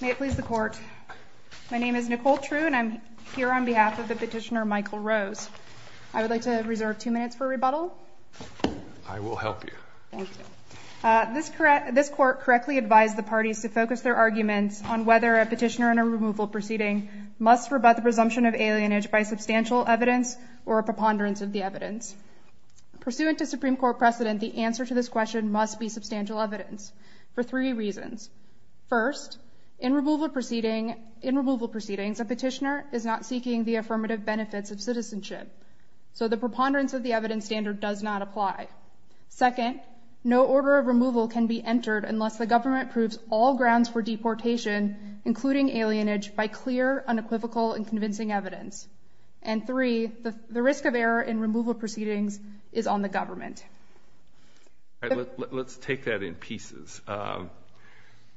May it please the Court. My name is Nicole True and I'm here on behalf of the petitioner Michael Rose. I would like to reserve two minutes for rebuttal. I will help you. Thank you. This court correctly advised the parties to focus their arguments on whether a petitioner in a removal proceeding must rebut the presumption of alienage by substantial evidence or a preponderance of the evidence. Pursuant to Supreme Court precedent, the answer to this question must be substantial evidence for three reasons. First, in removal proceedings, a petitioner is not seeking the affirmative benefits of citizenship. So the preponderance of the evidence standard does not apply. Second, no order of removal can be entered unless the government proves all grounds for deportation, including alienage, by clear, unequivocal, and convincing evidence. And three, the risk of error in removal proceedings is on the government. Let's take that in pieces.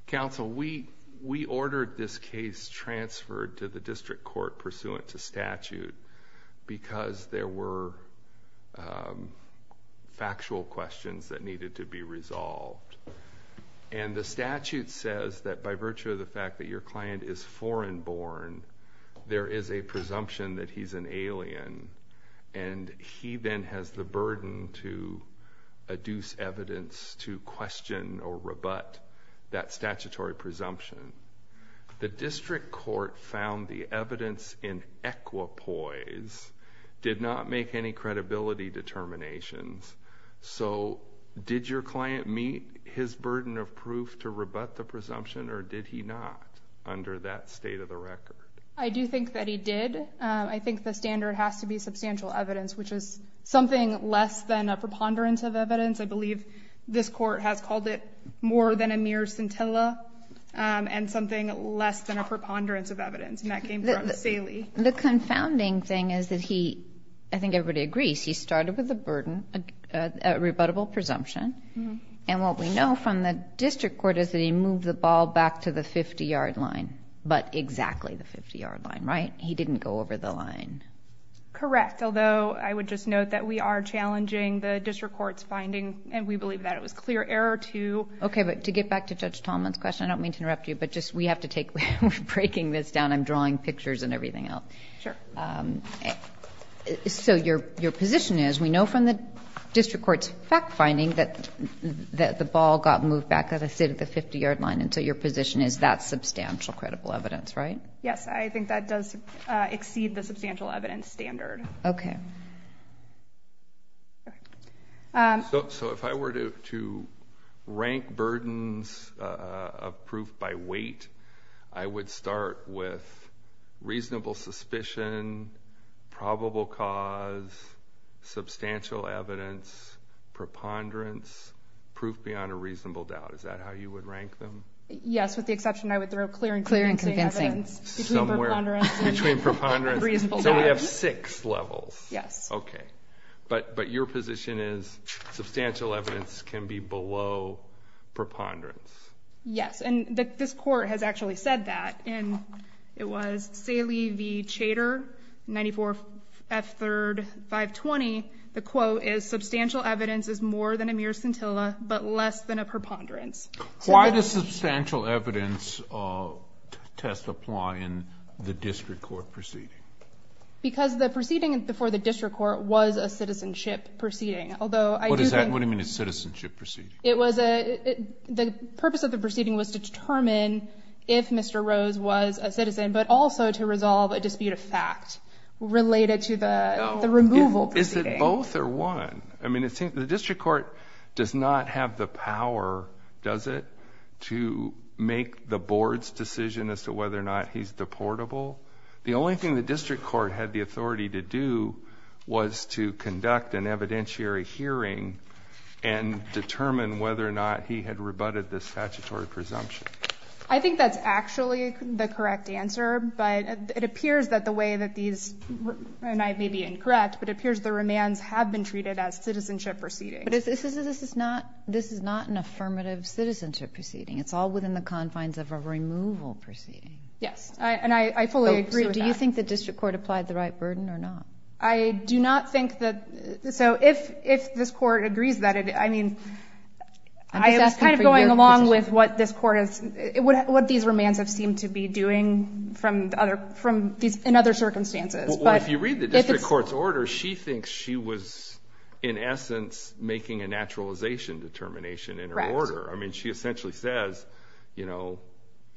Counsel, we ordered this case transferred to the district court pursuant to statute because there were factual questions that needed to be resolved. And the statute says that by virtue of the fact that your client is foreign-born, there is a presumption that he's an alien, and he then has the burden to adduce evidence to question or rebut that statutory presumption. The district court found the evidence in equipoise did not make any credibility determinations. So did your client meet his burden of proof to rebut the presumption, or did he not under that state of the record? I do think that he did. I think the standard has to be substantial evidence, which is something less than a preponderance of evidence. I believe this court has called it more than a mere scintilla and something less than a preponderance of evidence, and that came from Saley. The confounding thing is that he, I think everybody agrees, he started with a burden, a rebuttable presumption, and what we know from the district court is that he moved the ball back to the 50-yard line, but exactly the 50-yard line, right? He didn't go over the line. Correct, although I would just note that we are challenging the district court's finding, and we believe that it was clear error to... Okay, but to get back to Judge Tallman's question, I don't mean to interrupt you, but just we have to take... we're breaking this down. I'm drawing pictures and everything else. Sure. So your position is we know from the district court's fact-finding that the ball got moved back to the 50-yard line, and so your position is that's substantial credible evidence, right? Yes, I think that does exceed the substantial evidence standard. Okay. So if I were to rank burdens of proof by weight, I would start with reasonable suspicion, probable cause, substantial evidence, preponderance, proof beyond a reasonable doubt. Is that how you would rank them? Yes, with the exception I would throw clear and convincing evidence. Clear and convincing. Somewhere between preponderance and reasonable doubt. So we have six levels. Yes. Okay. But your position is substantial evidence can be below preponderance. Yes, and this court has actually said that, and it was Saley v. Chater, 94 F. 3rd, 520. The quote is, Substantial evidence is more than a mere scintilla, but less than a preponderance. Why does substantial evidence test apply in the district court proceeding? Because the proceeding before the district court was a citizenship proceeding. What do you mean a citizenship proceeding? The purpose of the proceeding was to determine if Mr. Rose was a citizen, but also to resolve a dispute of fact related to the removal proceeding. Is it both or one? I mean, the district court does not have the power, does it, to make the board's decision as to whether or not he's deportable. The only thing the district court had the authority to do was to conduct an evidentiary hearing and determine whether or not he had rebutted the statutory presumption. I think that's actually the correct answer, but it appears that the way that these, and I may be incorrect, but it appears the remands have been treated as citizenship proceedings. But this is not an affirmative citizenship proceeding. It's all within the confines of a removal proceeding. Yes, and I fully agree with that. Do you think the district court applied the right burden or not? I do not think that, so if this court agrees that, I mean, I was kind of going along with what this court has, what these remands have seemed to be doing in other circumstances. Well, if you read the district court's order, she thinks she was in essence making a naturalization determination in her order. I mean, she essentially says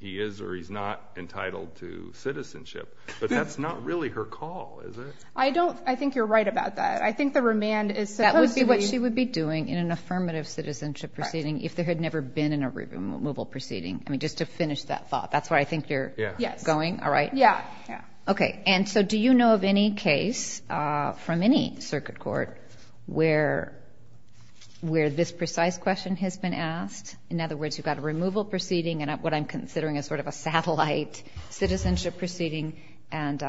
he is or he's not entitled to citizenship, but that's not really her call, is it? I think you're right about that. I think the remand is supposed to be— That would be what she would be doing in an affirmative citizenship proceeding if there had never been a removal proceeding. I mean, just to finish that thought. That's where I think you're going, all right? Yes. Okay, and so do you know of any case from any circuit court where this precise question has been asked? In other words, you've got a removal proceeding and what I'm considering is sort of a satellite citizenship proceeding and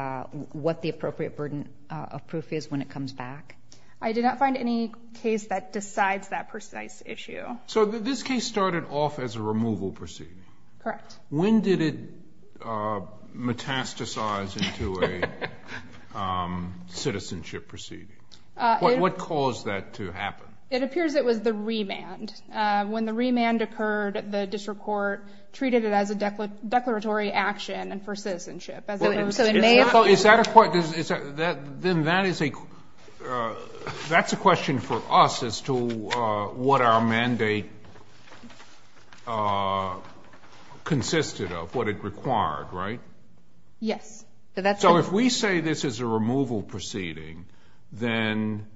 what the appropriate burden of proof is when it comes back? I did not find any case that decides that precise issue. So this case started off as a removal proceeding? Correct. When did it metastasize into a citizenship proceeding? What caused that to happen? It appears it was the remand. When the remand occurred, the district court treated it as a declaratory action and for citizenship. Is that a point? Then that is a question for us as to what our mandate consisted of, what it required, right? Yes. So if we say this is a removal proceeding, then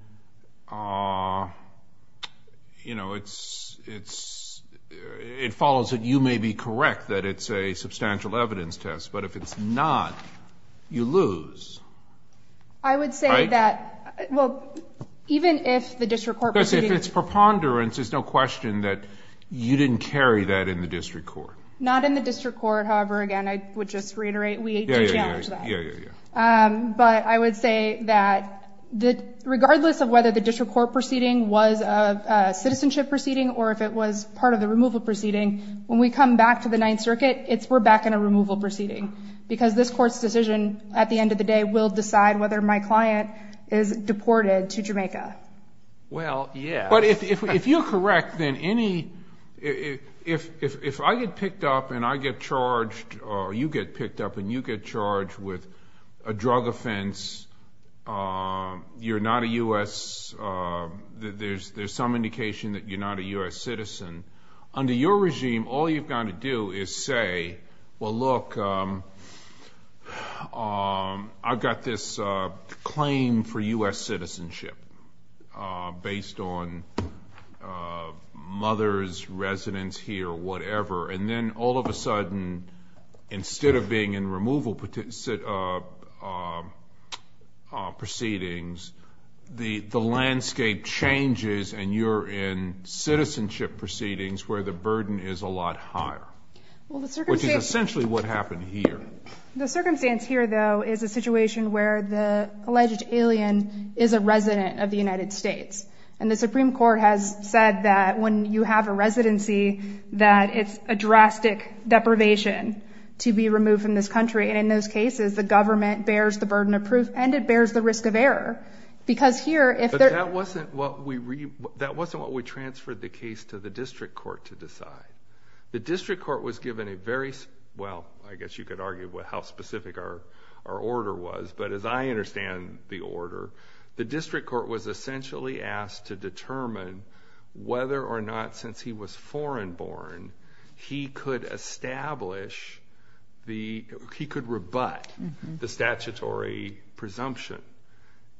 it follows that you may be correct that it's a substantial evidence test, but if it's not, you lose. I would say that, well, even if the district court proceeding was... Because if it's preponderance, there's no question that you didn't carry that in the district court. Not in the district court, however, again, I would just reiterate... But I would say that regardless of whether the district court proceeding was a citizenship proceeding or if it was part of the removal proceeding, when we come back to the Ninth Circuit, we're back in a removal proceeding because this court's decision at the end of the day will decide whether my client is deported to Jamaica. Well, yes. But if you're correct, then if I get picked up and I get charged or you get picked up and you get charged with a drug offense, you're not a U.S.... There's some indication that you're not a U.S. citizen. Under your regime, all you've got to do is say, well, look, I've got this claim for U.S. citizenship based on mother's residence here or whatever, and then all of a sudden instead of being in removal proceedings, the landscape changes and you're in citizenship proceedings where the burden is a lot higher, which is essentially what happened here. The circumstance here, though, is a situation where the alleged alien is a resident of the United States, and the Supreme Court has said that when you have a residency that it's a drastic deprivation to be removed from this country. In those cases, the government bears the burden of proof and it bears the risk of error because here if they're... But that wasn't what we transferred the case to the district court to decide. The district court was given a very... Well, I guess you could argue how specific our order was, but as I understand the order, the district court was essentially asked to determine whether or not since he was foreign born he could establish the... he could rebut the statutory presumption.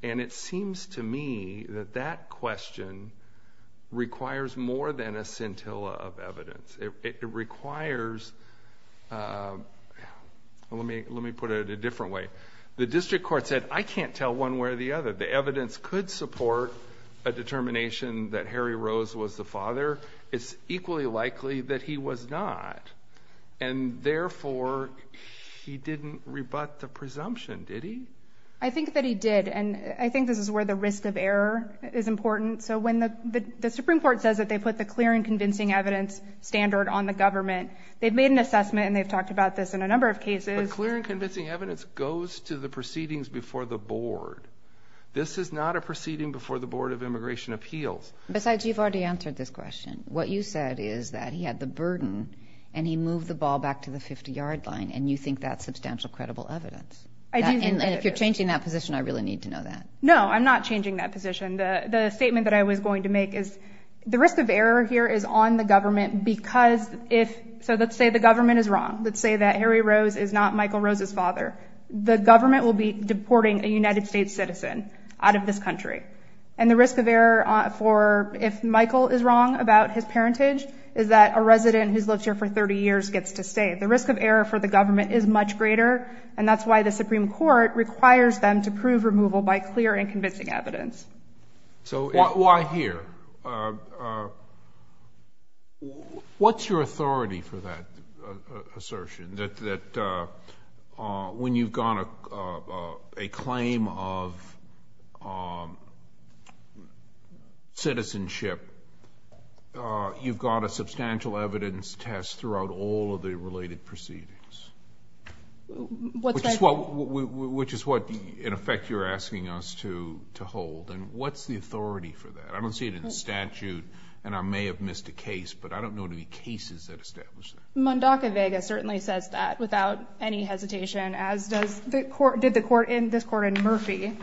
And it seems to me that that question requires more than a scintilla of evidence. It requires... let me put it a different way. The district court said, I can't tell one way or the other. The evidence could support a determination that Harry Rose was the father. It's equally likely that he was not, and therefore he didn't rebut the presumption, did he? I think that he did, and I think this is where the risk of error is important. So when the Supreme Court says that they put the clear and convincing evidence standard on the government, they've made an assessment, and they've talked about this in a number of cases. But clear and convincing evidence goes to the proceedings before the board. This is not a proceeding before the Board of Immigration Appeals. Besides, you've already answered this question. What you said is that he had the burden, and he moved the ball back to the 50-yard line, and you think that's substantial credible evidence. And if you're changing that position, I really need to know that. No, I'm not changing that position. The statement that I was going to make is the risk of error here is on the government because if... so let's say the government is wrong. Let's say that Harry Rose is not Michael Rose's father. The government will be deporting a United States citizen out of this country. And the risk of error for if Michael is wrong about his parentage is that a resident who's lived here for 30 years gets to stay. The risk of error for the government is much greater, and that's why the Supreme Court requires them to prove removal by clear and convincing evidence. Why here? What's your authority for that assertion, that when you've got a claim of citizenship, you've got a substantial evidence test throughout all of the related proceedings? Which is what, in effect, you're asking us to hold. And what's the authority for that? I don't see it in the statute, and I may have missed a case, but I don't know of any cases that establish that. Mundaka Vega certainly says that without any hesitation, as did this Court in Murphy.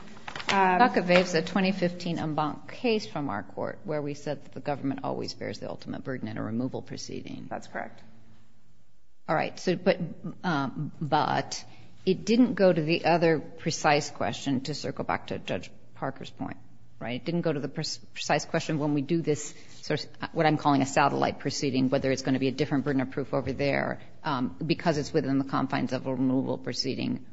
Mundaka Vega is a 2015 en banc case from our court where we said that the government always bears the ultimate burden in a removal proceeding. That's correct. All right. But it didn't go to the other precise question, to circle back to Judge Parker's point, right? It didn't go to the precise question when we do this, what I'm calling a satellite proceeding, whether it's going to be a different burden of proof over there because it's within the confines of a removal proceeding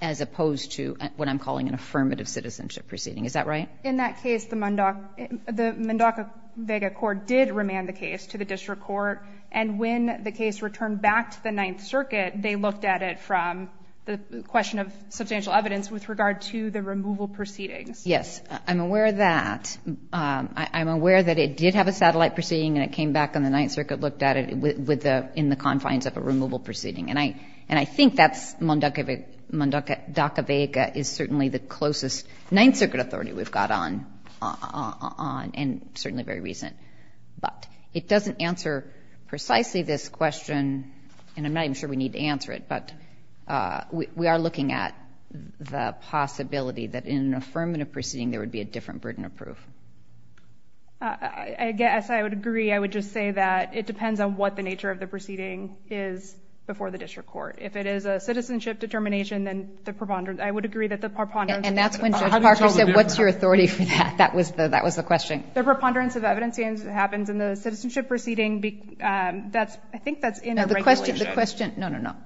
as opposed to what I'm calling an affirmative citizenship proceeding. Is that right? In that case, the Mundaka Vega court did remand the case to the district court, and when the case returned back to the Ninth Circuit, they looked at it from the question of substantial evidence with regard to the removal proceedings. Yes. I'm aware of that. I'm aware that it did have a satellite proceeding and it came back and the Ninth Circuit looked at it in the confines of a removal proceeding. And I think that's Mundaka Vega is certainly the closest Ninth Circuit authority we've got on, and certainly very recent. But it doesn't answer precisely this question, and I'm not even sure we need to answer it, but we are looking at the possibility that in an affirmative proceeding there would be a different burden of proof. I guess I would agree. I would just say that it depends on what the nature of the proceeding is before the district court. If it is a citizenship determination, then I would agree that the preponderance And that's when Judge Parker said, what's your authority for that? That was the question. The preponderance of evidence happens in the citizenship proceeding. I think that's in the regulation. No, no, no.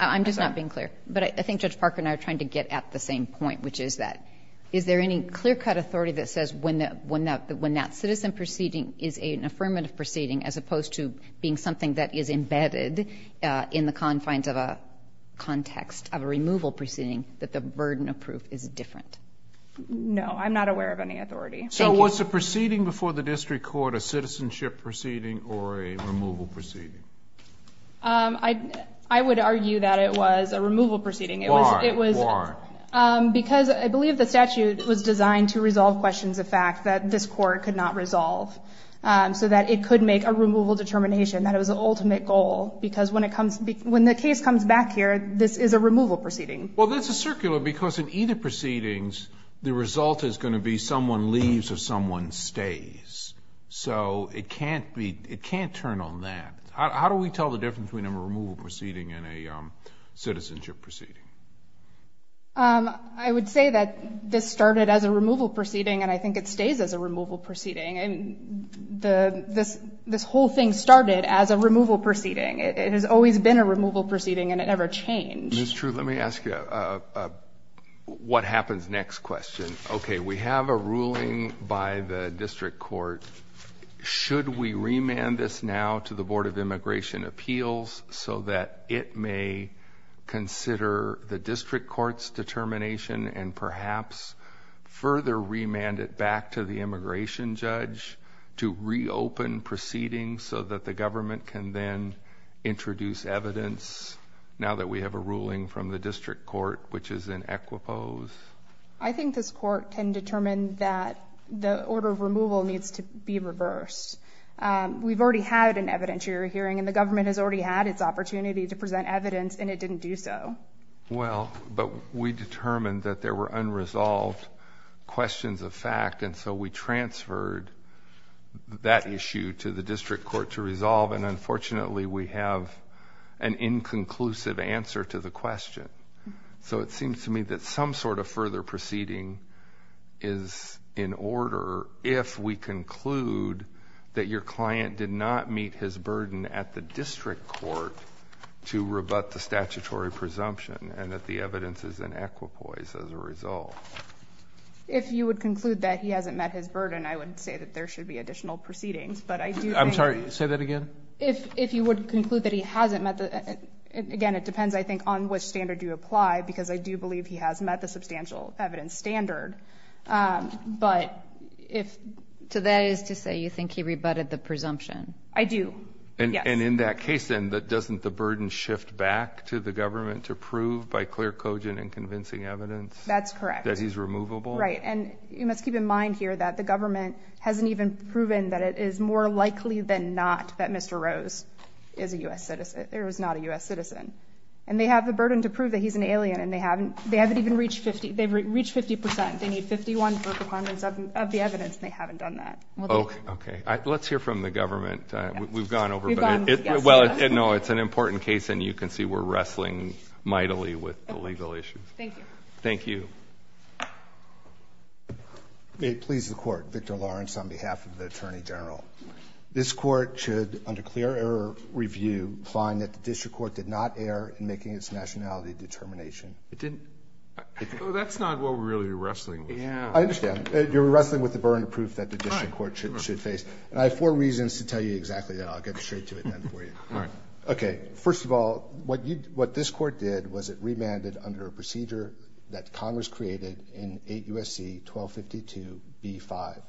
I'm just not being clear. But I think Judge Parker and I are trying to get at the same point, which is that is there any clear-cut authority that says when that citizen proceeding is an affirmative proceeding as opposed to being something that is embedded in the confines of a context of a removal proceeding that the burden of proof is different? No, I'm not aware of any authority. Thank you. So was the proceeding before the district court a citizenship proceeding or a removal proceeding? I would argue that it was a removal proceeding. Why? Because I believe the statute was designed to resolve questions of fact that this court could not resolve so that it could make a removal determination. That was the ultimate goal because when the case comes back here, this is a removal proceeding. Well, that's a circular because in either proceedings, the result is going to be someone leaves or someone stays. So it can't turn on that. How do we tell the difference between a removal proceeding and a citizenship proceeding? I would say that this started as a removal proceeding, and I think it stays as a removal proceeding. This whole thing started as a removal proceeding. It has always been a removal proceeding, and it never changed. Ms. True, let me ask you what happens next question. Okay, we have a ruling by the district court. Should we remand this now to the Board of Immigration Appeals so that it may consider the district court's determination and perhaps further remand it back to the immigration judge to reopen proceedings so that the government can then introduce evidence, now that we have a ruling from the district court, which is in equipose? I think this court can determine that the order of removal needs to be reversed. We've already had an evidentiary hearing, and the government has already had its opportunity to present evidence, and it didn't do so. Well, but we determined that there were unresolved questions of fact, and so we transferred that issue to the district court to resolve, and unfortunately we have an inconclusive answer to the question. So it seems to me that some sort of further proceeding is in order if we conclude that your client did not meet his burden at the district court to rebut the statutory presumption and that the evidence is in equipoise as a result. If you would conclude that he hasn't met his burden, I would say that there should be additional proceedings. I'm sorry. Say that again. If you would conclude that he hasn't met the – again, it depends, I think, on which standard you apply, because I do believe he has met the substantial evidence standard. So that is to say you think he rebutted the presumption? I do, yes. And in that case then, doesn't the burden shift back to the government to prove by clear cogent and convincing evidence that he's removable? That's correct. Right. And you must keep in mind here that the government hasn't even proven that it is more likely than not that Mr. Rose is a U.S. citizen or is not a U.S. citizen. And they have the burden to prove that he's an alien, and they haven't even reached 50%. They've reached 50%. They need 51 for a performance of the evidence, and they haven't done that. Okay. Let's hear from the government. We've gone over it. Well, no, it's an important case, and you can see we're wrestling mightily with the legal issues. Thank you. Thank you. May it please the Court, I have a question for Victor Lawrence on behalf of the Attorney General. This court should, under clear error review, find that the district court did not err in making its nationality determination. That's not what we're really wrestling with. I understand. You're wrestling with the burden of proof that the district court should face. And I have four reasons to tell you exactly that. I'll get straight to it then for you. All right. Okay. First of all, what this court did was it remanded under a procedure that Congress created in 8 U.S.C. 1252 B-5.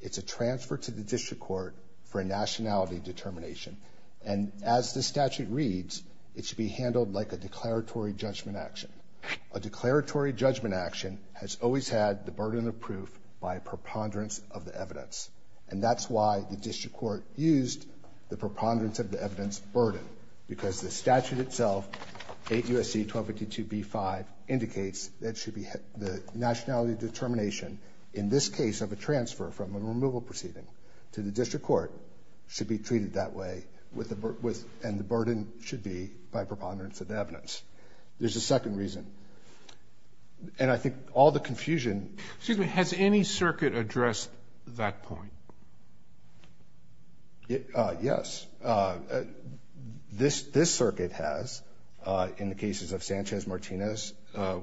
It's a transfer to the district court for a nationality determination. And as the statute reads, it should be handled like a declaratory judgment action. A declaratory judgment action has always had the burden of proof by a preponderance of the evidence. And that's why the district court used the preponderance of the evidence burden, because the statute itself, 8 U.S.C. 1252 B-5, indicates that the nationality determination in this case of a transfer from a removal proceeding to the district court should be treated that way and the burden should be by preponderance of the evidence. There's a second reason. And I think all the confusion. Excuse me. Has any circuit addressed that point? Yes. This circuit has, in the cases of Sanchez-Martinez,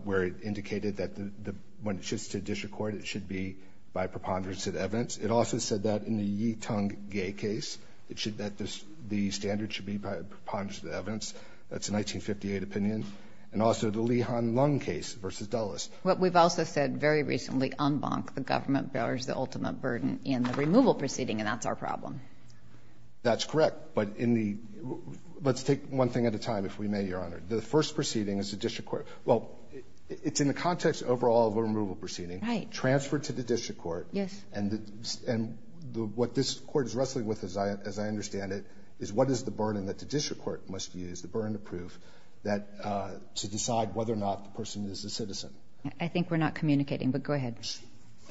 where it indicated that when it shifts to district court, it should be by preponderance of the evidence. It also said that in the Yee-Tung-Gay case, that the standard should be by preponderance of the evidence. That's a 1958 opinion. And also the Leehan-Lung case versus Dulles. What we've also said very recently, en banc, the government bears the ultimate burden in the removal proceeding, and that's our problem. That's correct. But let's take one thing at a time, if we may, Your Honor. The first proceeding is the district court. Well, it's in the context overall of a removal proceeding. Right. Transferred to the district court. Yes. And what this court is wrestling with, as I understand it, is what is the burden that the district court must use, the burden of proof to decide whether or not the person is a citizen. I think we're not communicating, but go ahead.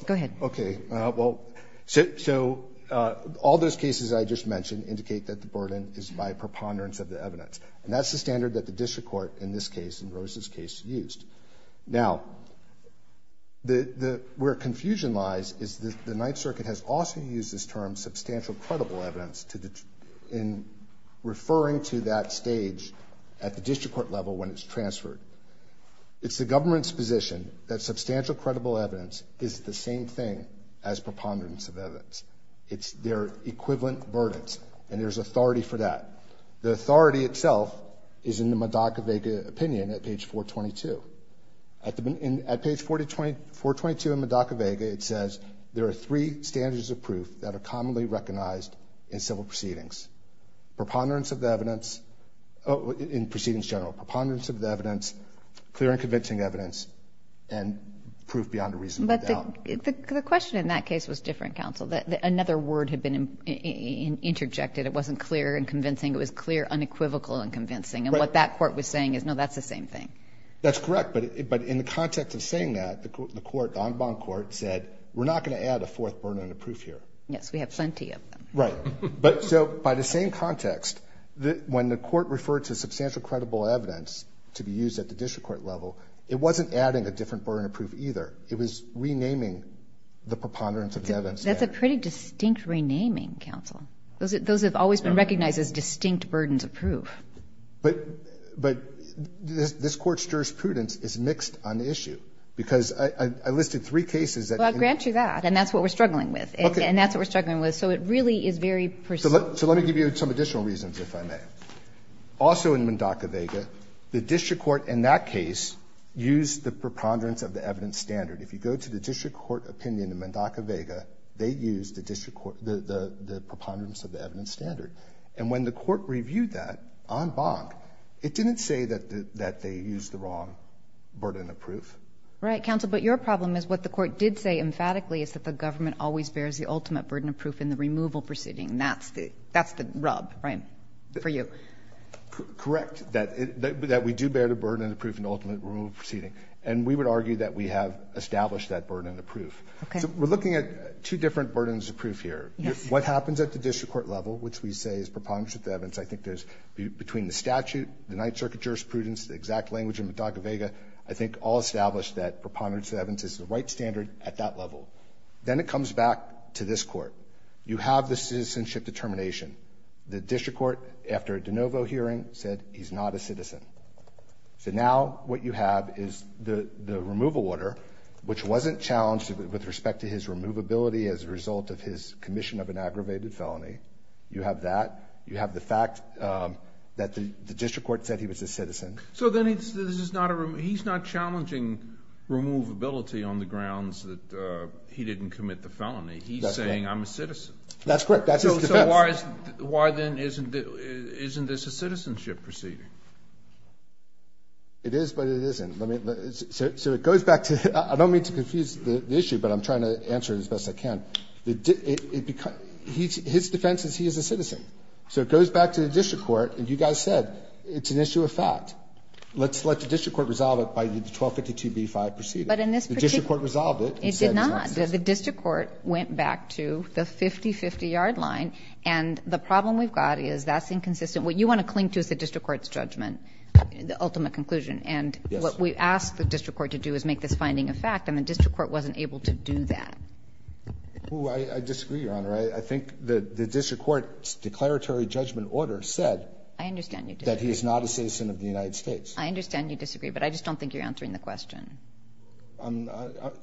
Go ahead. Okay. Well, so all those cases I just mentioned indicate that the burden is by preponderance of the evidence. And that's the standard that the district court, in this case, in Rose's case, used. Now, where confusion lies is that the Ninth Circuit has also used this term substantial credible evidence in referring to that stage at the district court level when it's transferred. It's the government's position that substantial credible evidence is the same thing as preponderance of evidence. It's their equivalent burden. And there's authority for that. The authority itself is in the Madacavega opinion at page 422. At page 422 in Madacavega, it says, there are three standards of proof that are commonly recognized in civil proceedings. Preponderance of the evidence in proceedings general, preponderance of the evidence, clear and convincing evidence, and proof beyond a reasonable doubt. But the question in that case was different, counsel. Another word had been interjected. It wasn't clear and convincing. It was clear, unequivocal and convincing. And what that court was saying is, no, that's the same thing. That's correct. But in the context of saying that, the court, the en banc court, said we're not going to add a fourth burden of proof here. Yes, we have plenty of them. Right. But so by the same context, when the court referred to substantial credible evidence to be used at the district court level, it wasn't adding a different burden of proof either. It was renaming the preponderance of the evidence. That's a pretty distinct renaming, counsel. Those have always been recognized as distinct burdens of proof. But this Court's jurisprudence is mixed on the issue, because I listed three cases that. Well, I grant you that. And that's what we're struggling with. Okay. And that's what we're struggling with. So it really is very precise. So let me give you some additional reasons, if I may. Also in Mendoca-Vega, the district court in that case used the preponderance of the evidence standard. If you go to the district court opinion in Mendoca-Vega, they used the district court, the preponderance of the evidence standard. And when the court reviewed that en banc, it didn't say that they used the wrong burden of proof. Right, counsel. But your problem is what the court did say emphatically is that the government always bears the ultimate burden of proof in the removal proceeding. And that's the rub, right, for you. Correct, that we do bear the burden of proof in the ultimate removal proceeding. And we would argue that we have established that burden of proof. Okay. So we're looking at two different burdens of proof here. Yes. What happens at the district court level, which we say is preponderance of the evidence, I think there's between the statute, the Ninth Circuit jurisprudence, the exact language in Mendoca-Vega, I think all establish that preponderance of the evidence is the right standard at that level. Then it comes back to this Court. You have the citizenship determination. The district court, after a de novo hearing, said he's not a citizen. So now what you have is the removal order, which wasn't challenged with respect to his removability as a result of his commission of an aggravated felony. You have that. You have the fact that the district court said he was a citizen. So then he's not challenging removability on the grounds that he didn't commit the felony. He's saying I'm a citizen. That's correct. That's his defense. So why then isn't this a citizenship proceeding? It is, but it isn't. So it goes back to the issue. I don't mean to confuse the issue, but I'm trying to answer it as best I can. His defense is he is a citizen. So it goes back to the district court, and you guys said it's an issue of fact. Let's let the district court resolve it by the 1252b-5 proceeding. But in this particular case, it did not. The district court went back to the 50-50 yard line, and the problem we've got is that's inconsistent. What you want to cling to is the district court's judgment, the ultimate conclusion. And what we asked the district court to do is make this finding a fact, and the district court wasn't able to do that. I disagree, Your Honor. I think the district court's declaratory judgment order said that he is not a citizen of the United States. I understand you disagree, but I just don't think you're answering the question.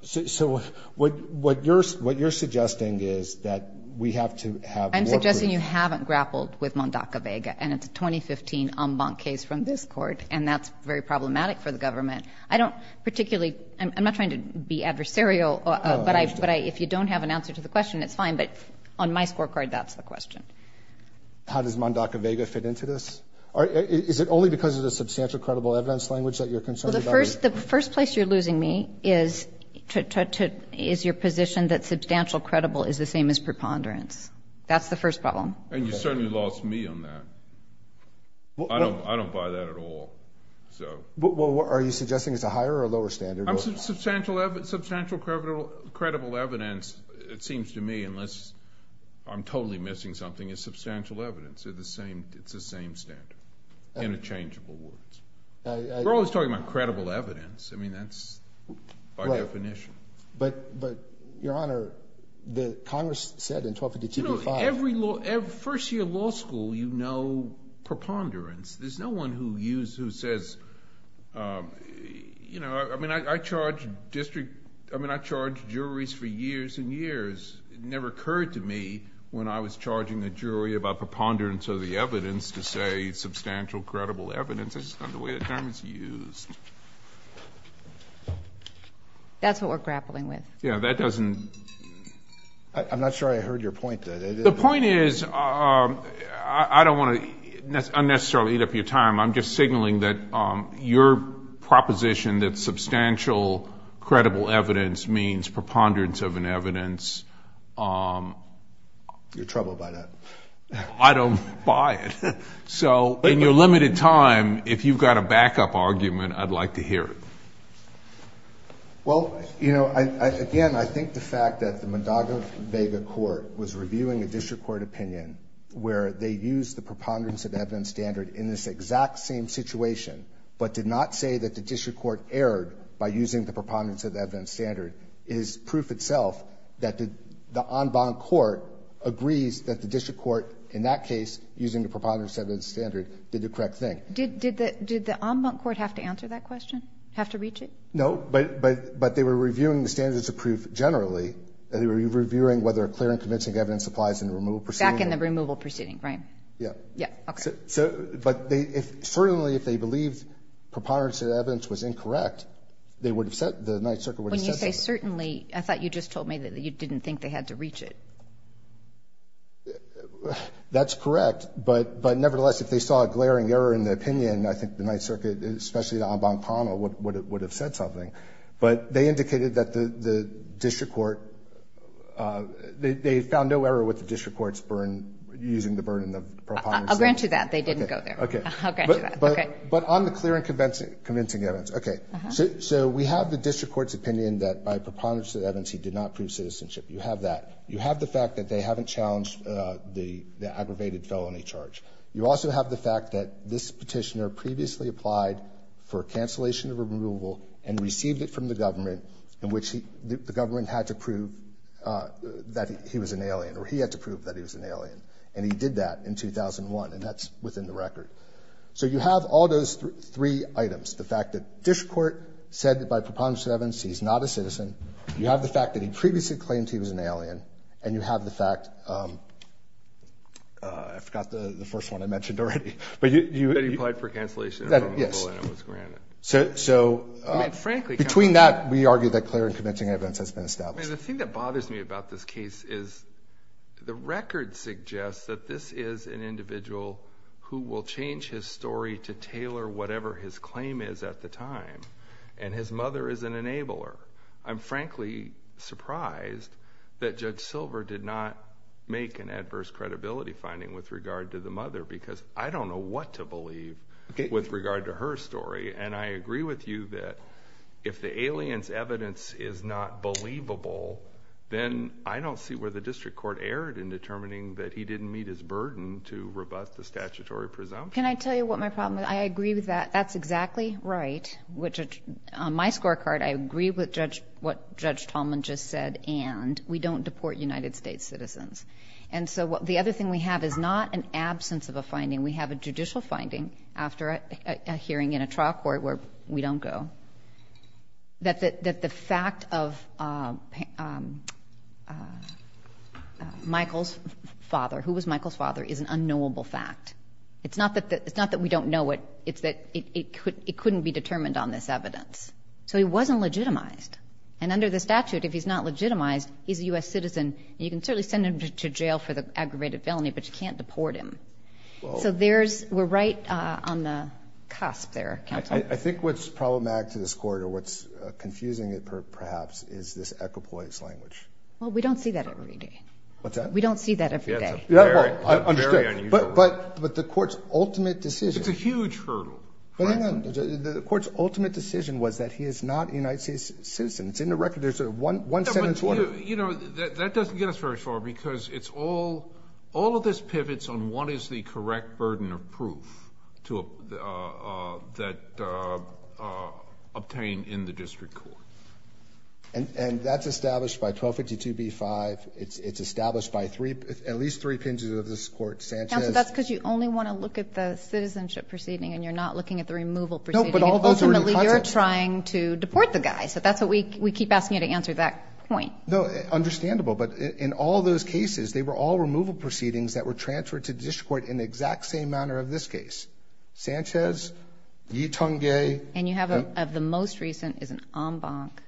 So what you're suggesting is that we have to have more proof. I'm suggesting you haven't grappled with Mondaca-Vega, and it's a 2015 en banc case from this court, and that's very problematic for the government. I don't particularly – I'm not trying to be adversarial, but if you don't have an answer to the question, it's fine. But on my scorecard, that's the question. How does Mondaca-Vega fit into this? Is it only because of the substantial credible evidence language that you're concerned about this? Well, the first place you're losing me is your position that substantial credible is the same as preponderance. That's the first problem. And you certainly lost me on that. I don't buy that at all. Are you suggesting it's a higher or lower standard? Substantial credible evidence, it seems to me, unless I'm totally missing something, is substantial evidence. It's the same standard, interchangeable words. We're always talking about credible evidence. I mean, that's by definition. But, Your Honor, Congress said in 1252-5 – You know, every first-year law school, you know preponderance. There's no one who says – I mean, I charged juries for years and years. It never occurred to me when I was charging a jury about preponderance of the evidence to say substantial credible evidence. That's not the way that term is used. That's what we're grappling with. Yeah, that doesn't – I'm not sure I heard your point. The point is, I don't want to unnecessarily eat up your time. I'm just signaling that your proposition that substantial credible evidence means preponderance of an evidence – You're troubled by that. I don't buy it. So, in your limited time, if you've got a backup argument, I'd like to hear it. Well, you know, again, I think the fact that the Mondaga-Vega Court was reviewing a district court opinion where they used the preponderance of evidence standard in this exact same situation but did not say that the district court erred by using the preponderance of the evidence standard is proof itself that the en banc court agrees that the district court, in that case, using the preponderance of evidence standard, did the correct thing. Did the en banc court have to answer that question, have to reach it? No, but they were reviewing the standards of proof generally. They were reviewing whether a clear and convincing evidence applies in the removal proceeding. Back in the removal proceeding, right? Yeah. Yeah, okay. But certainly, if they believed preponderance of evidence was incorrect, they would have said – the Ninth Circuit would have said something. When you say certainly, I thought you just told me that you didn't think they had to reach it. That's correct. But nevertheless, if they saw a glaring error in the opinion, I think the Ninth Circuit, especially the en banc panel, would have said something. But they indicated that the district court – they found no error with the district court's using the burden of preponderance. I'll grant you that. They didn't go there. Okay. I'll grant you that. Okay. But on the clear and convincing evidence. Okay. So we have the district court's opinion that by preponderance of evidence, he did not prove citizenship. You have that. You have the fact that they haven't challenged the aggravated felony charge. You also have the fact that this Petitioner previously applied for cancellation of removal and received it from the government, in which the government had to prove that he was an alien, or he had to prove that he was an alien. And he did that in 2001, and that's within the record. So you have all those three items. The fact that district court said that by preponderance of evidence, he's not a citizen. You have the fact that he previously claimed he was an alien, and you have the fact – I forgot the first one I mentioned already. That he applied for cancellation of removal and it was granted. Yes. So between that, we argue that clear and convincing evidence has been established. The thing that bothers me about this case is the record suggests that this is an individual who will change his story to tailor whatever his claim is at the time, and his mother is an enabler. I'm frankly surprised that Judge Silver did not make an adverse credibility finding with regard to the mother because I don't know what to believe with regard to her story. And I agree with you that if the alien's evidence is not believable, then I don't see where the district court erred in determining that he didn't meet his burden to rebut the statutory presumption. Can I tell you what my problem is? I agree with that. That's exactly right. On my scorecard, I agree with what Judge Tallman just said, and we don't deport United States citizens. And so the other thing we have is not an absence of a finding. We have a judicial finding after a hearing in a trial court where we don't go, that the fact of Michael's father, who was Michael's father, is an unknowable fact. It's not that we don't know it. It's that it couldn't be determined on this evidence. So he wasn't legitimized. And under the statute, if he's not legitimized, he's a U.S. citizen, and you can certainly send him to jail for the aggravated felony, but you can't deport him. So we're right on the cusp there, counsel. I think what's problematic to this court, or what's confusing it perhaps, is this equipoise language. Well, we don't see that every day. What's that? We don't see that every day. Very unusual. But the court's ultimate decision. It's a huge hurdle. But hang on. The court's ultimate decision was that he is not a United States citizen. It's in the record. There's a one-sentence order. You know, that doesn't get us very far, because all of this pivots on what is the correct burden of proof that obtained in the district court. And that's established by 1252b-5. It's established by at least three pinches of this court. Sanchez. Counsel, that's because you only want to look at the citizenship proceeding and you're not looking at the removal proceeding. No, but all those are in the context. Ultimately, you're trying to deport the guy. So that's what we keep asking you to answer, that point. No, understandable. But in all those cases, they were all removal proceedings that were transferred to the district court in the exact same manner of this case. Sanchez, Yitongye. And you have, of the most recent, is an en banc.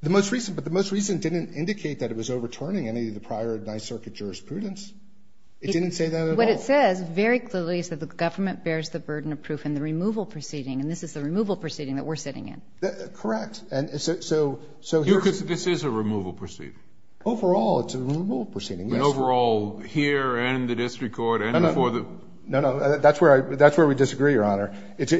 The most recent, but the most recent didn't indicate that it was overturning any of the prior Ninth Circuit jurisprudence. It didn't say that at all. What it says very clearly is that the government bears the burden of proof in the removal proceeding. And this is the removal proceeding that we're sitting in. Correct. And so here's the thing. This is a removal proceeding. Overall, it's a removal proceeding. Overall, here and in the district court and for the ---- No, no. That's where we disagree, Your Honor. It's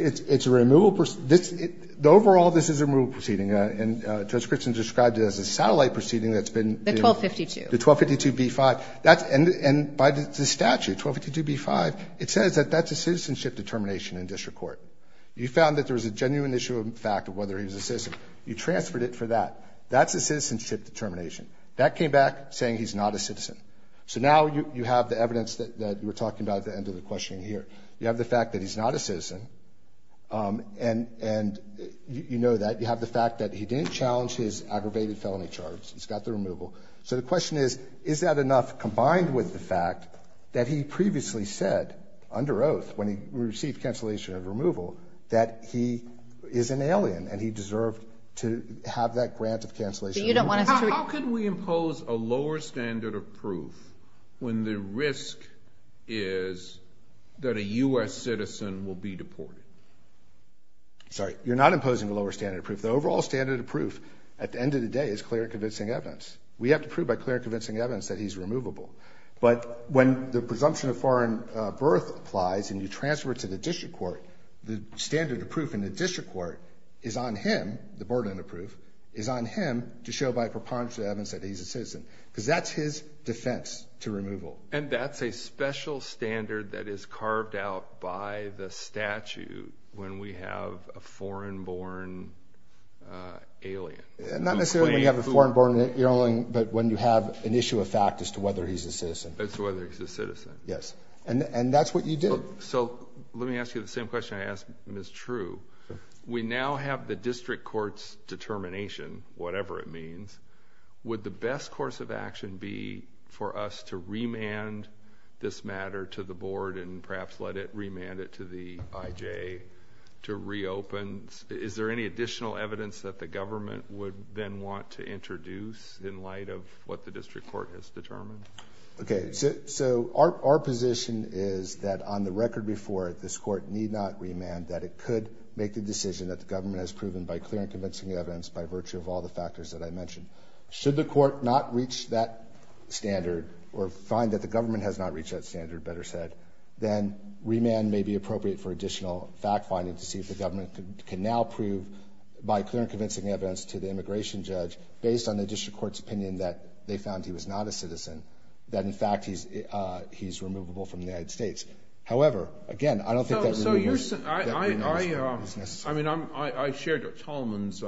a removal ---- Overall, this is a removal proceeding. And Judge Christian described it as a satellite proceeding that's been ---- The 1252. The 1252B5. And by the statute, 1252B5, it says that that's a citizenship determination in district court. You found that there was a genuine issue of fact of whether he was a citizen. You transferred it for that. That's a citizenship determination. That came back saying he's not a citizen. So now you have the evidence that we're talking about at the end of the questioning here. You have the fact that he's not a citizen. And you know that. You have the fact that he didn't challenge his aggravated felony charge. He's got the removal. So the question is, is that enough combined with the fact that he previously said under oath, when he received cancellation of removal, that he is an alien and he deserved to have that grant of cancellation? But you don't want us to ---- How could we impose a lower standard of proof when the risk is that a U.S. citizen will be deported? Sorry. You're not imposing a lower standard of proof. The overall standard of proof at the end of the day is clear and convincing evidence. We have to prove by clear and convincing evidence that he's removable. But when the presumption of foreign birth applies and you transfer it to the district court, the standard of proof in the district court is on him, the board unapproved, is on him to show by a preponderance of evidence that he's a citizen. Because that's his defense to removal. And that's a special standard that is carved out by the statute when we have a foreign born alien. Not necessarily when you have a foreign born alien, but when you have an issue of fact as to whether he's a citizen. As to whether he's a citizen. Yes. And that's what you do. So let me ask you the same question I asked Ms. True. We now have the district court's determination, whatever it means, to reopen. Is there any additional evidence that the government would then want to introduce in light of what the district court has determined? Okay. So our position is that on the record before it, this court need not remand that it could make the decision that the government has proven by clear and convincing evidence by virtue of all the factors that I mentioned. Should the court not reach that standard or find that the government has not reached that standard, better said, then remand may be appropriate for additional fact finding to see if the government can now prove by clear and convincing evidence to the immigration judge based on the district court's opinion that they found he was not a citizen. That in fact he's, he's removable from the United States. However, again, I don't think that. So you're saying, I, I, I, I mean, I'm, I, I shared Tolman's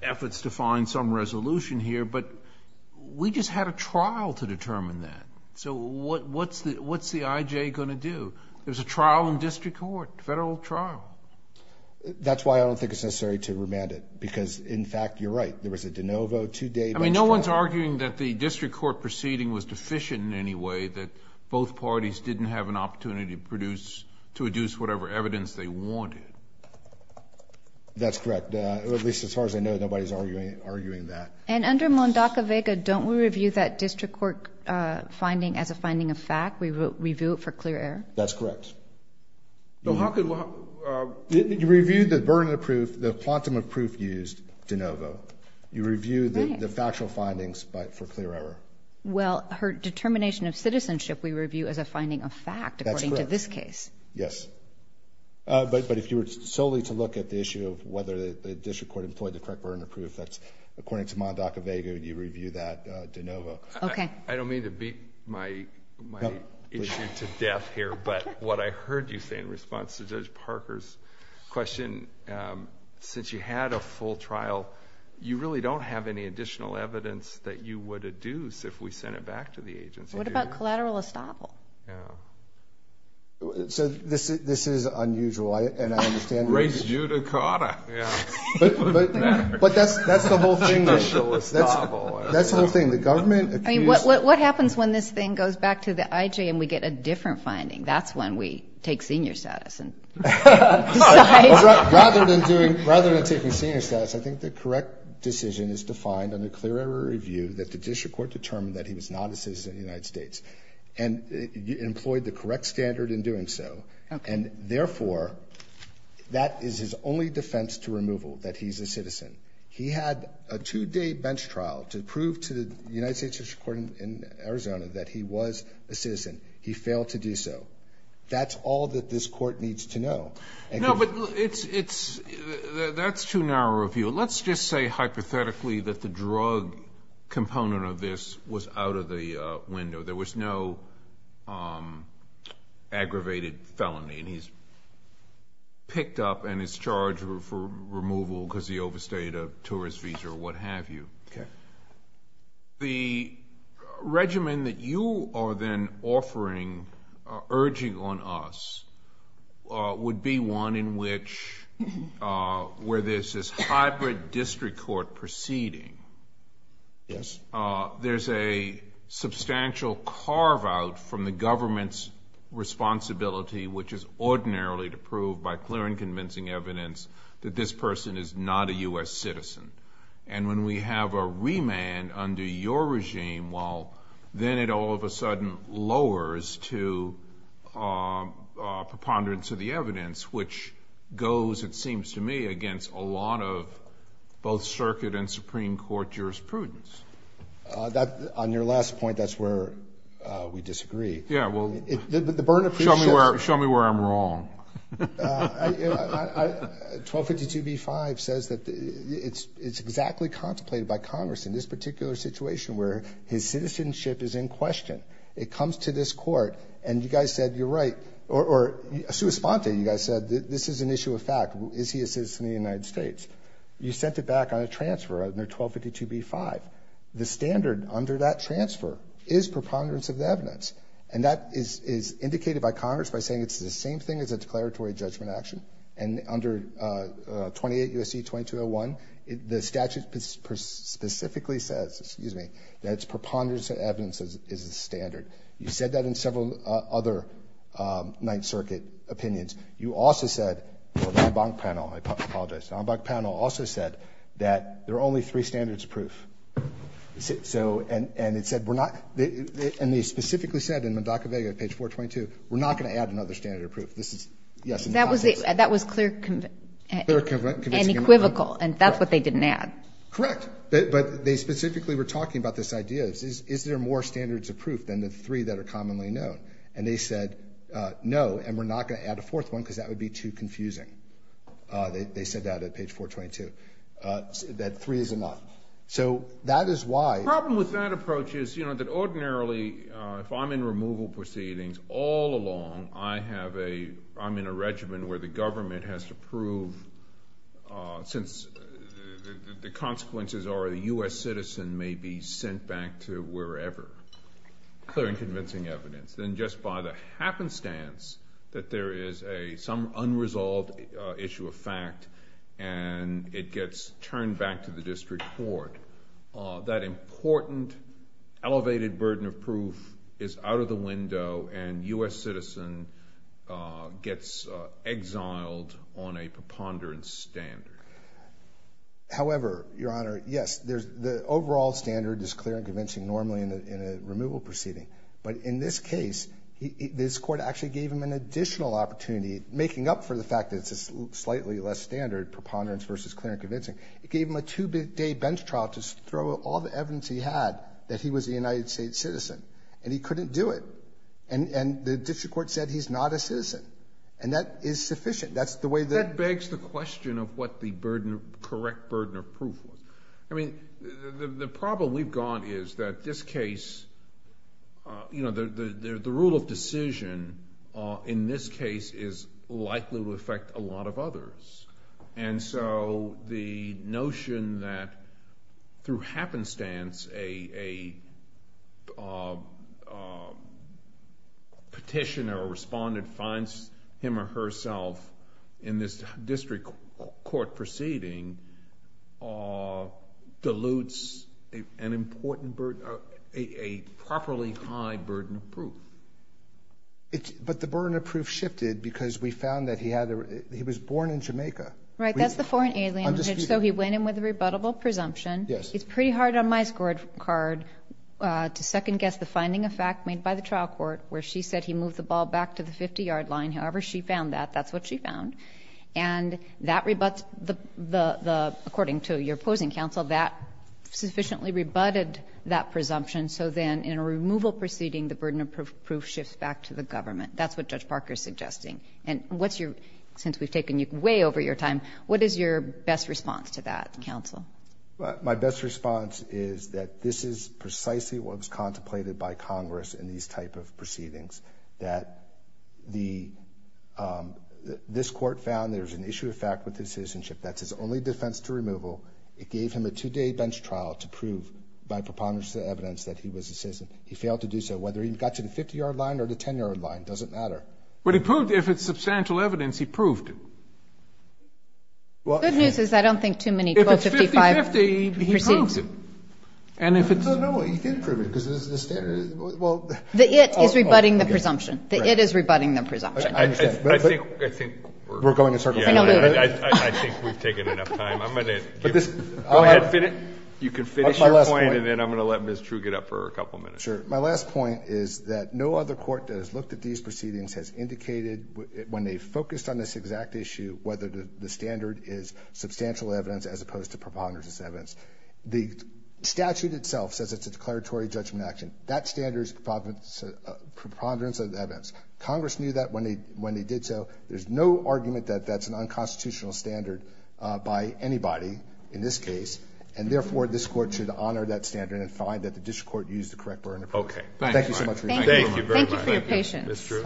efforts to find some resolution here, but we just had a trial to determine that. So what, what's the, what's the IJ going to do? There's a trial in district court, federal trial. That's why I don't think it's necessary to remand it because in fact you're right, there was a DeNovo two day. I mean, no one's arguing that the district court proceeding was deficient in any way that both parties didn't have an opportunity to produce, to adduce whatever evidence they wanted. That's correct. At least as far as I know, nobody's arguing, arguing that. And under Mondaka Vega, don't we review that district court finding as a finding of fact, we review it for clear air. That's correct. So how could you review the burden of proof? The quantum of proof used DeNovo, you review the factual findings for clear error. Well, her determination of citizenship, we review as a finding of fact, according to this case. Yes. But, but if you were solely to look at the issue of whether the district court employed the correct burden of proof, that's according to Mondaka Vega, you review that DeNovo. Okay. I don't mean to beat my, my issue to death here, but what I heard you say in response to Judge Parker's question, since you had a full trial, you really don't have any additional evidence that you would adduce if we sent it back to the agency. What about collateral estoppel? Yeah. So this, this is unusual. And I understand. Raise judicata. Yeah. But, but, but that's, that's the whole thing. That's the whole thing. The government. I mean, what, what, what happens when this thing goes back to the IJ and we get a different finding? That's when we take senior status and rather than doing, rather than taking senior status, I think the correct decision is defined under clear error review that the district court determined that he was not a citizen of the United States and employed the correct standard in doing so. And therefore that is his only defense to removal. That he's a citizen. He had a two day bench trial to prove to the United States court in Arizona that he was a citizen. He failed to do so. That's all that this court needs to know. No, but it's, it's, that's too narrow a view. Let's just say hypothetically that the drug component of this was out of the window. There was no aggravated felony and he's picked up and is charged for removal because he overstayed a tourist visa or what have you. Okay. The regimen that you are then offering, urging on us, would be one in which, where there's this hybrid district court proceeding. Yes. There's a substantial carve out from the government's responsibility, which is ordinarily to prove by clear and convincing evidence that this person is not a U.S. citizen. And when we have a remand under your regime, well then it all of a sudden lowers to preponderance of the evidence, which goes, it seems to me, against a lot of both circuit and Supreme Court jurisprudence. On your last point, that's where we disagree. Yeah. Show me where I'm wrong. 1252b-5 says that it's exactly contemplated by Congress in this particular situation where his citizenship is in question. It comes to this court and you guys said, you're right. Or a sua sponte, you guys said, this is an issue of fact. Is he a citizen of the United States? You sent it back on a transfer under 1252b-5. The standard under that transfer is preponderance of the evidence. And that is indicated by Congress by saying it's the same thing as a declaratory judgment action. And under 28 U.S.C. 2201, the statute specifically says, excuse me, that it's preponderance of evidence is the standard. You said that in several other Ninth Circuit opinions. You also said, or the Embank panel, I apologize, the Embank panel also said that there are only three standards of proof. And it said we're not, and they specifically said in Mendoca-Vega at page 422, we're not going to add another standard of proof. That was clear and equivocal, and that's what they didn't add. Correct. But they specifically were talking about this idea. Is there more standards of proof than the three that are commonly known? And they said, no, and we're not going to add a fourth one because that would be too confusing. They said that at page 422. That three is enough. So that is why. The problem with that approach is, you know, that ordinarily, if I'm in removal proceedings all along, I have a, I'm in a regimen where the government has to prove since the consequences are a U.S. citizen may be sent back to wherever. Clear and convincing evidence. Then just by the happenstance that there is some unresolved issue of fact and it gets turned back to the district court, that important elevated burden of proof is out of the window and U.S. citizen gets exiled on a preponderance standard. However, Your Honor, yes, the overall standard is clear and convincing normally in a removal proceeding. But in this case, this court actually gave him an additional opportunity, making up for the fact that it's a slightly less standard preponderance versus clear and convincing. It gave him a two-day bench trial to throw all the evidence he had that he was a United States citizen. And he couldn't do it. And the district court said he's not a citizen. And that is sufficient. That's the way that. That begs the question of what the correct burden of proof was. I mean, the problem we've got is that this case, you know, the rule of decision in this case is likely to affect a lot of others. And so the notion that through happenstance a petitioner or respondent finds him or herself in this district court proceeding dilutes a properly high burden of proof. But the burden of proof shifted because we found that he was born in Jamaica. Right. That's the foreign alien. So he went in with a rebuttable presumption. It's pretty hard on my scorecard to second-guess the finding of fact made by the trial court where she said he moved the ball back to the 50-yard line. However, she found that. That's what she found. And that rebuts the, according to your opposing counsel, that sufficiently rebutted that presumption. So then in a removal proceeding, the burden of proof shifts back to the government. That's what Judge Parker is suggesting. And what's your, since we've taken you way over your time, what is your best response to that, counsel? My best response is that this is precisely what was contemplated by Congress in these type of proceedings, that this court found there's an issue of fact with his citizenship. That's his only defense to removal. It gave him a two-day bench trial to prove by preponderance of the evidence that he was a citizen. He failed to do so. Whether he got to the 50-yard line or the 10-yard line doesn't matter. But he proved if it's substantial evidence, he proved it. The good news is I don't think too many 1255 proceedings. If it's 50-50, he proves it. And if it's... No, no, he did prove it because the standard is... The it is rebutting the presumption. The it is rebutting the presumption. I think... We're going in circles. I think we've taken enough time. I'm going to... Go ahead. You can finish your point and then I'm going to let Ms. True get up for a couple minutes. Sure. My last point is that no other court that has looked at these proceedings has indicated when they focused on this exact issue whether the standard is substantial evidence as opposed to preponderance of evidence. The statute itself says it's a declaratory judgment action. That standard is preponderance of evidence. Congress knew that when they did so. There's no argument that that's an unconstitutional standard by anybody in this case, and therefore this court should honor that standard and find that the district court used the correct burden of evidence. Okay. Thank you, Mark. Thank you so much for your time. Thank you. Thank you very much. Thank you for your patience. Ms. True.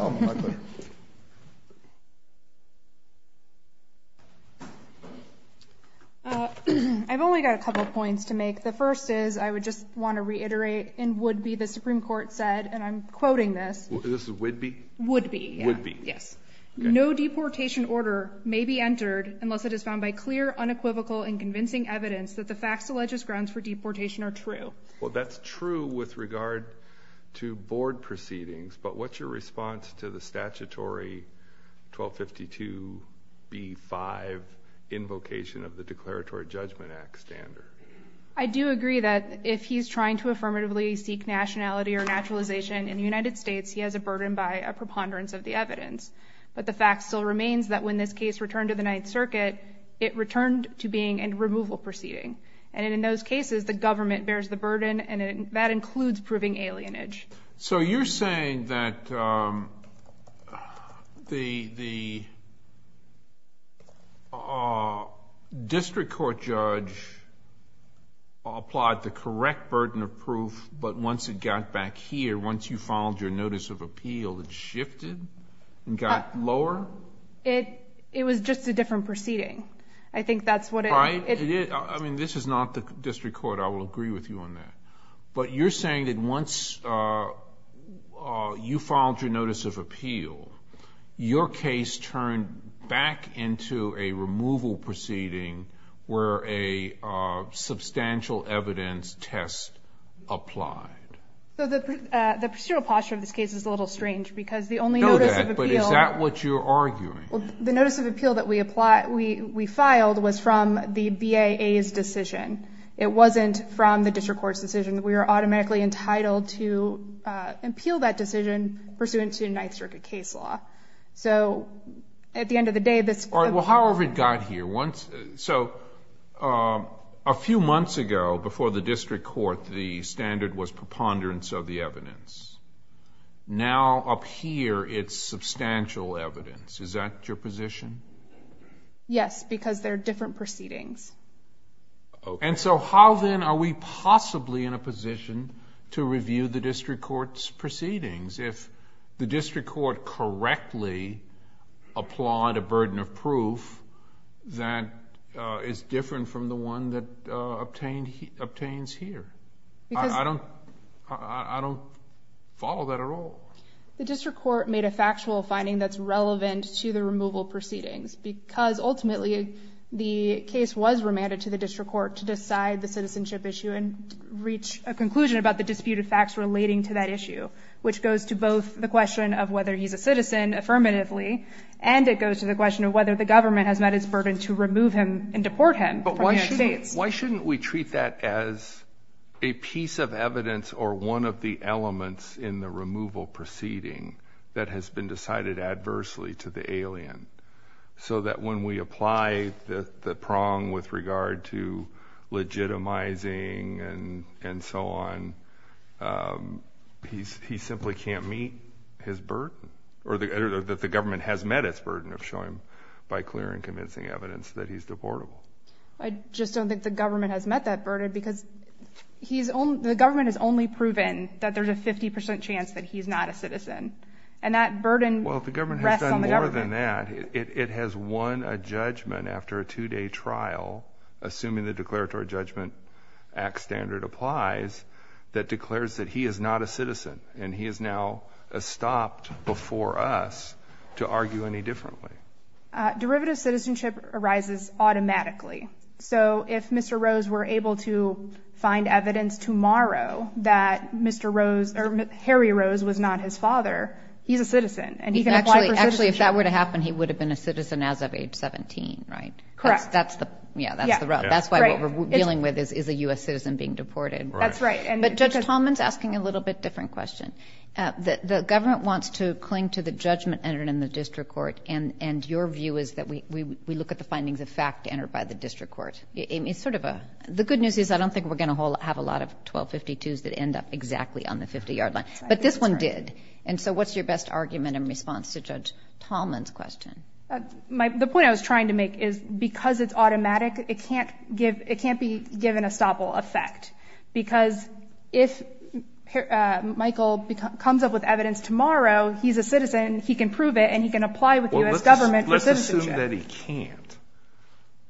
I've only got a couple of points to make. The first is I would just want to reiterate in would be the Supreme Court said, and I'm quoting this. This is would be? Would be. Would be. Yes. No deportation order may be entered unless it is found by clear, unequivocal, and convincing evidence that the facts, the legis grounds for deportation are true. Well, that's true with regard to board proceedings, but what's your response to the statutory 1252B5 invocation of the Declaratory Judgment Act standard? I do agree that if he's trying to affirmatively seek nationality or naturalization in the United States, he has a burden by a preponderance of the evidence. But the fact still remains that when this case returned to the Ninth Circuit, it returned to being a removal proceeding. And in those cases, the government bears the burden, and that includes proving alienage. So you're saying that the district court judge applied the correct burden of proof, but once it got back here, once you filed your notice of appeal, it shifted and got lower? It was just a different proceeding. I think that's what it... I mean, this is not the district court. I will agree with you on that. But you're saying that once you filed your notice of appeal, your case turned back into a removal proceeding where a substantial evidence test applied. The procedural posture of this case is a little strange because the only notice of appeal... I know that, but is that what you're arguing? The notice of appeal that we filed was from the BAA's decision. It wasn't from the district court's decision. We were automatically entitled to appeal that decision pursuant to Ninth Circuit case law. So at the end of the day, this... All right. Well, however it got here, once... So a few months ago, before the district court, the standard was preponderance of the evidence. Now, up here, it's substantial evidence. Is that your position? Yes, because they're different proceedings. Okay. And so how then are we possibly in a position to review the district court's proceedings if the district court correctly applied a burden of proof that is different from the one that obtains here? Because... I don't follow that at all. The district court made a factual finding that's relevant to the removal proceedings because ultimately the case was remanded to the district court to decide the citizenship issue and reach a conclusion about the disputed facts relating to that issue, which goes to both the question of whether he's a citizen affirmatively, and it goes to the question of whether the government has met its burden to remove him and deport him from the United States. But why shouldn't we treat that as a piece of evidence or one of the elements in the removal proceeding that has been decided adversely to the alien? So that when we apply the prong with regard to legitimizing and so on, he simply can't meet his burden, or that the government has met its burden of showing by clear and convincing evidence that he's deportable. I just don't think the government has met that burden because the government has only proven that there's a 50% chance that he's not a citizen, and that burden rests on the government. Other than that, it has won a judgment after a two-day trial, assuming the Declaratory Judgment Act standard applies, that declares that he is not a citizen and he is now stopped before us to argue any differently. Derivative citizenship arises automatically. So if Mr. Rose were able to find evidence tomorrow that Mr. Rose or Harry Rose was not his father, he's a citizen. Actually, if that were to happen, he would have been a citizen as of age 17, right? Correct. Yeah, that's the rub. That's why what we're dealing with is a U.S. citizen being deported. That's right. But Judge Tallman's asking a little bit different question. The government wants to cling to the judgment entered in the district court, and your view is that we look at the findings of fact entered by the district court. The good news is I don't think we're going to have a lot of 1252s that end up exactly on the 50-yard line, but this one did. And so what's your best argument in response to Judge Tallman's question? The point I was trying to make is because it's automatic, it can't be given a stoppable effect, because if Michael comes up with evidence tomorrow, he's a citizen, he can prove it, and he can apply with the U.S. government for citizenship. Well, let's assume that he can't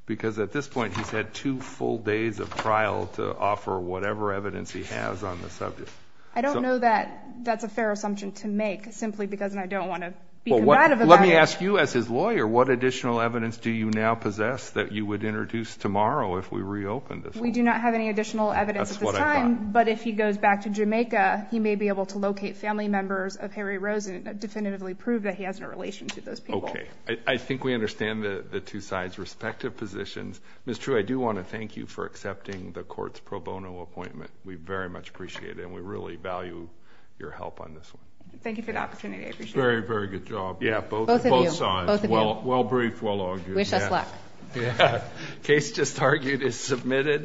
because at this point he's had two full days of trial to offer whatever evidence he has on the subject. I don't know that that's a fair assumption to make, simply because I don't want to be combative about it. Well, let me ask you as his lawyer, what additional evidence do you now possess that you would introduce tomorrow if we reopened this one? We do not have any additional evidence at this time. That's what I thought. But if he goes back to Jamaica, he may be able to locate family members of Harry Rosen and definitively prove that he has a relation to those people. Okay. I think we understand the two sides' respective positions. Ms. True, I do want to thank you for accepting the court's pro bono appointment. We very much appreciate it, and we really value your help on this one. Thank you for the opportunity. I appreciate it. Very, very good job. Both of you. Both sides. Both of you. Well briefed, well argued. Wish us luck. Case just argued is submitted.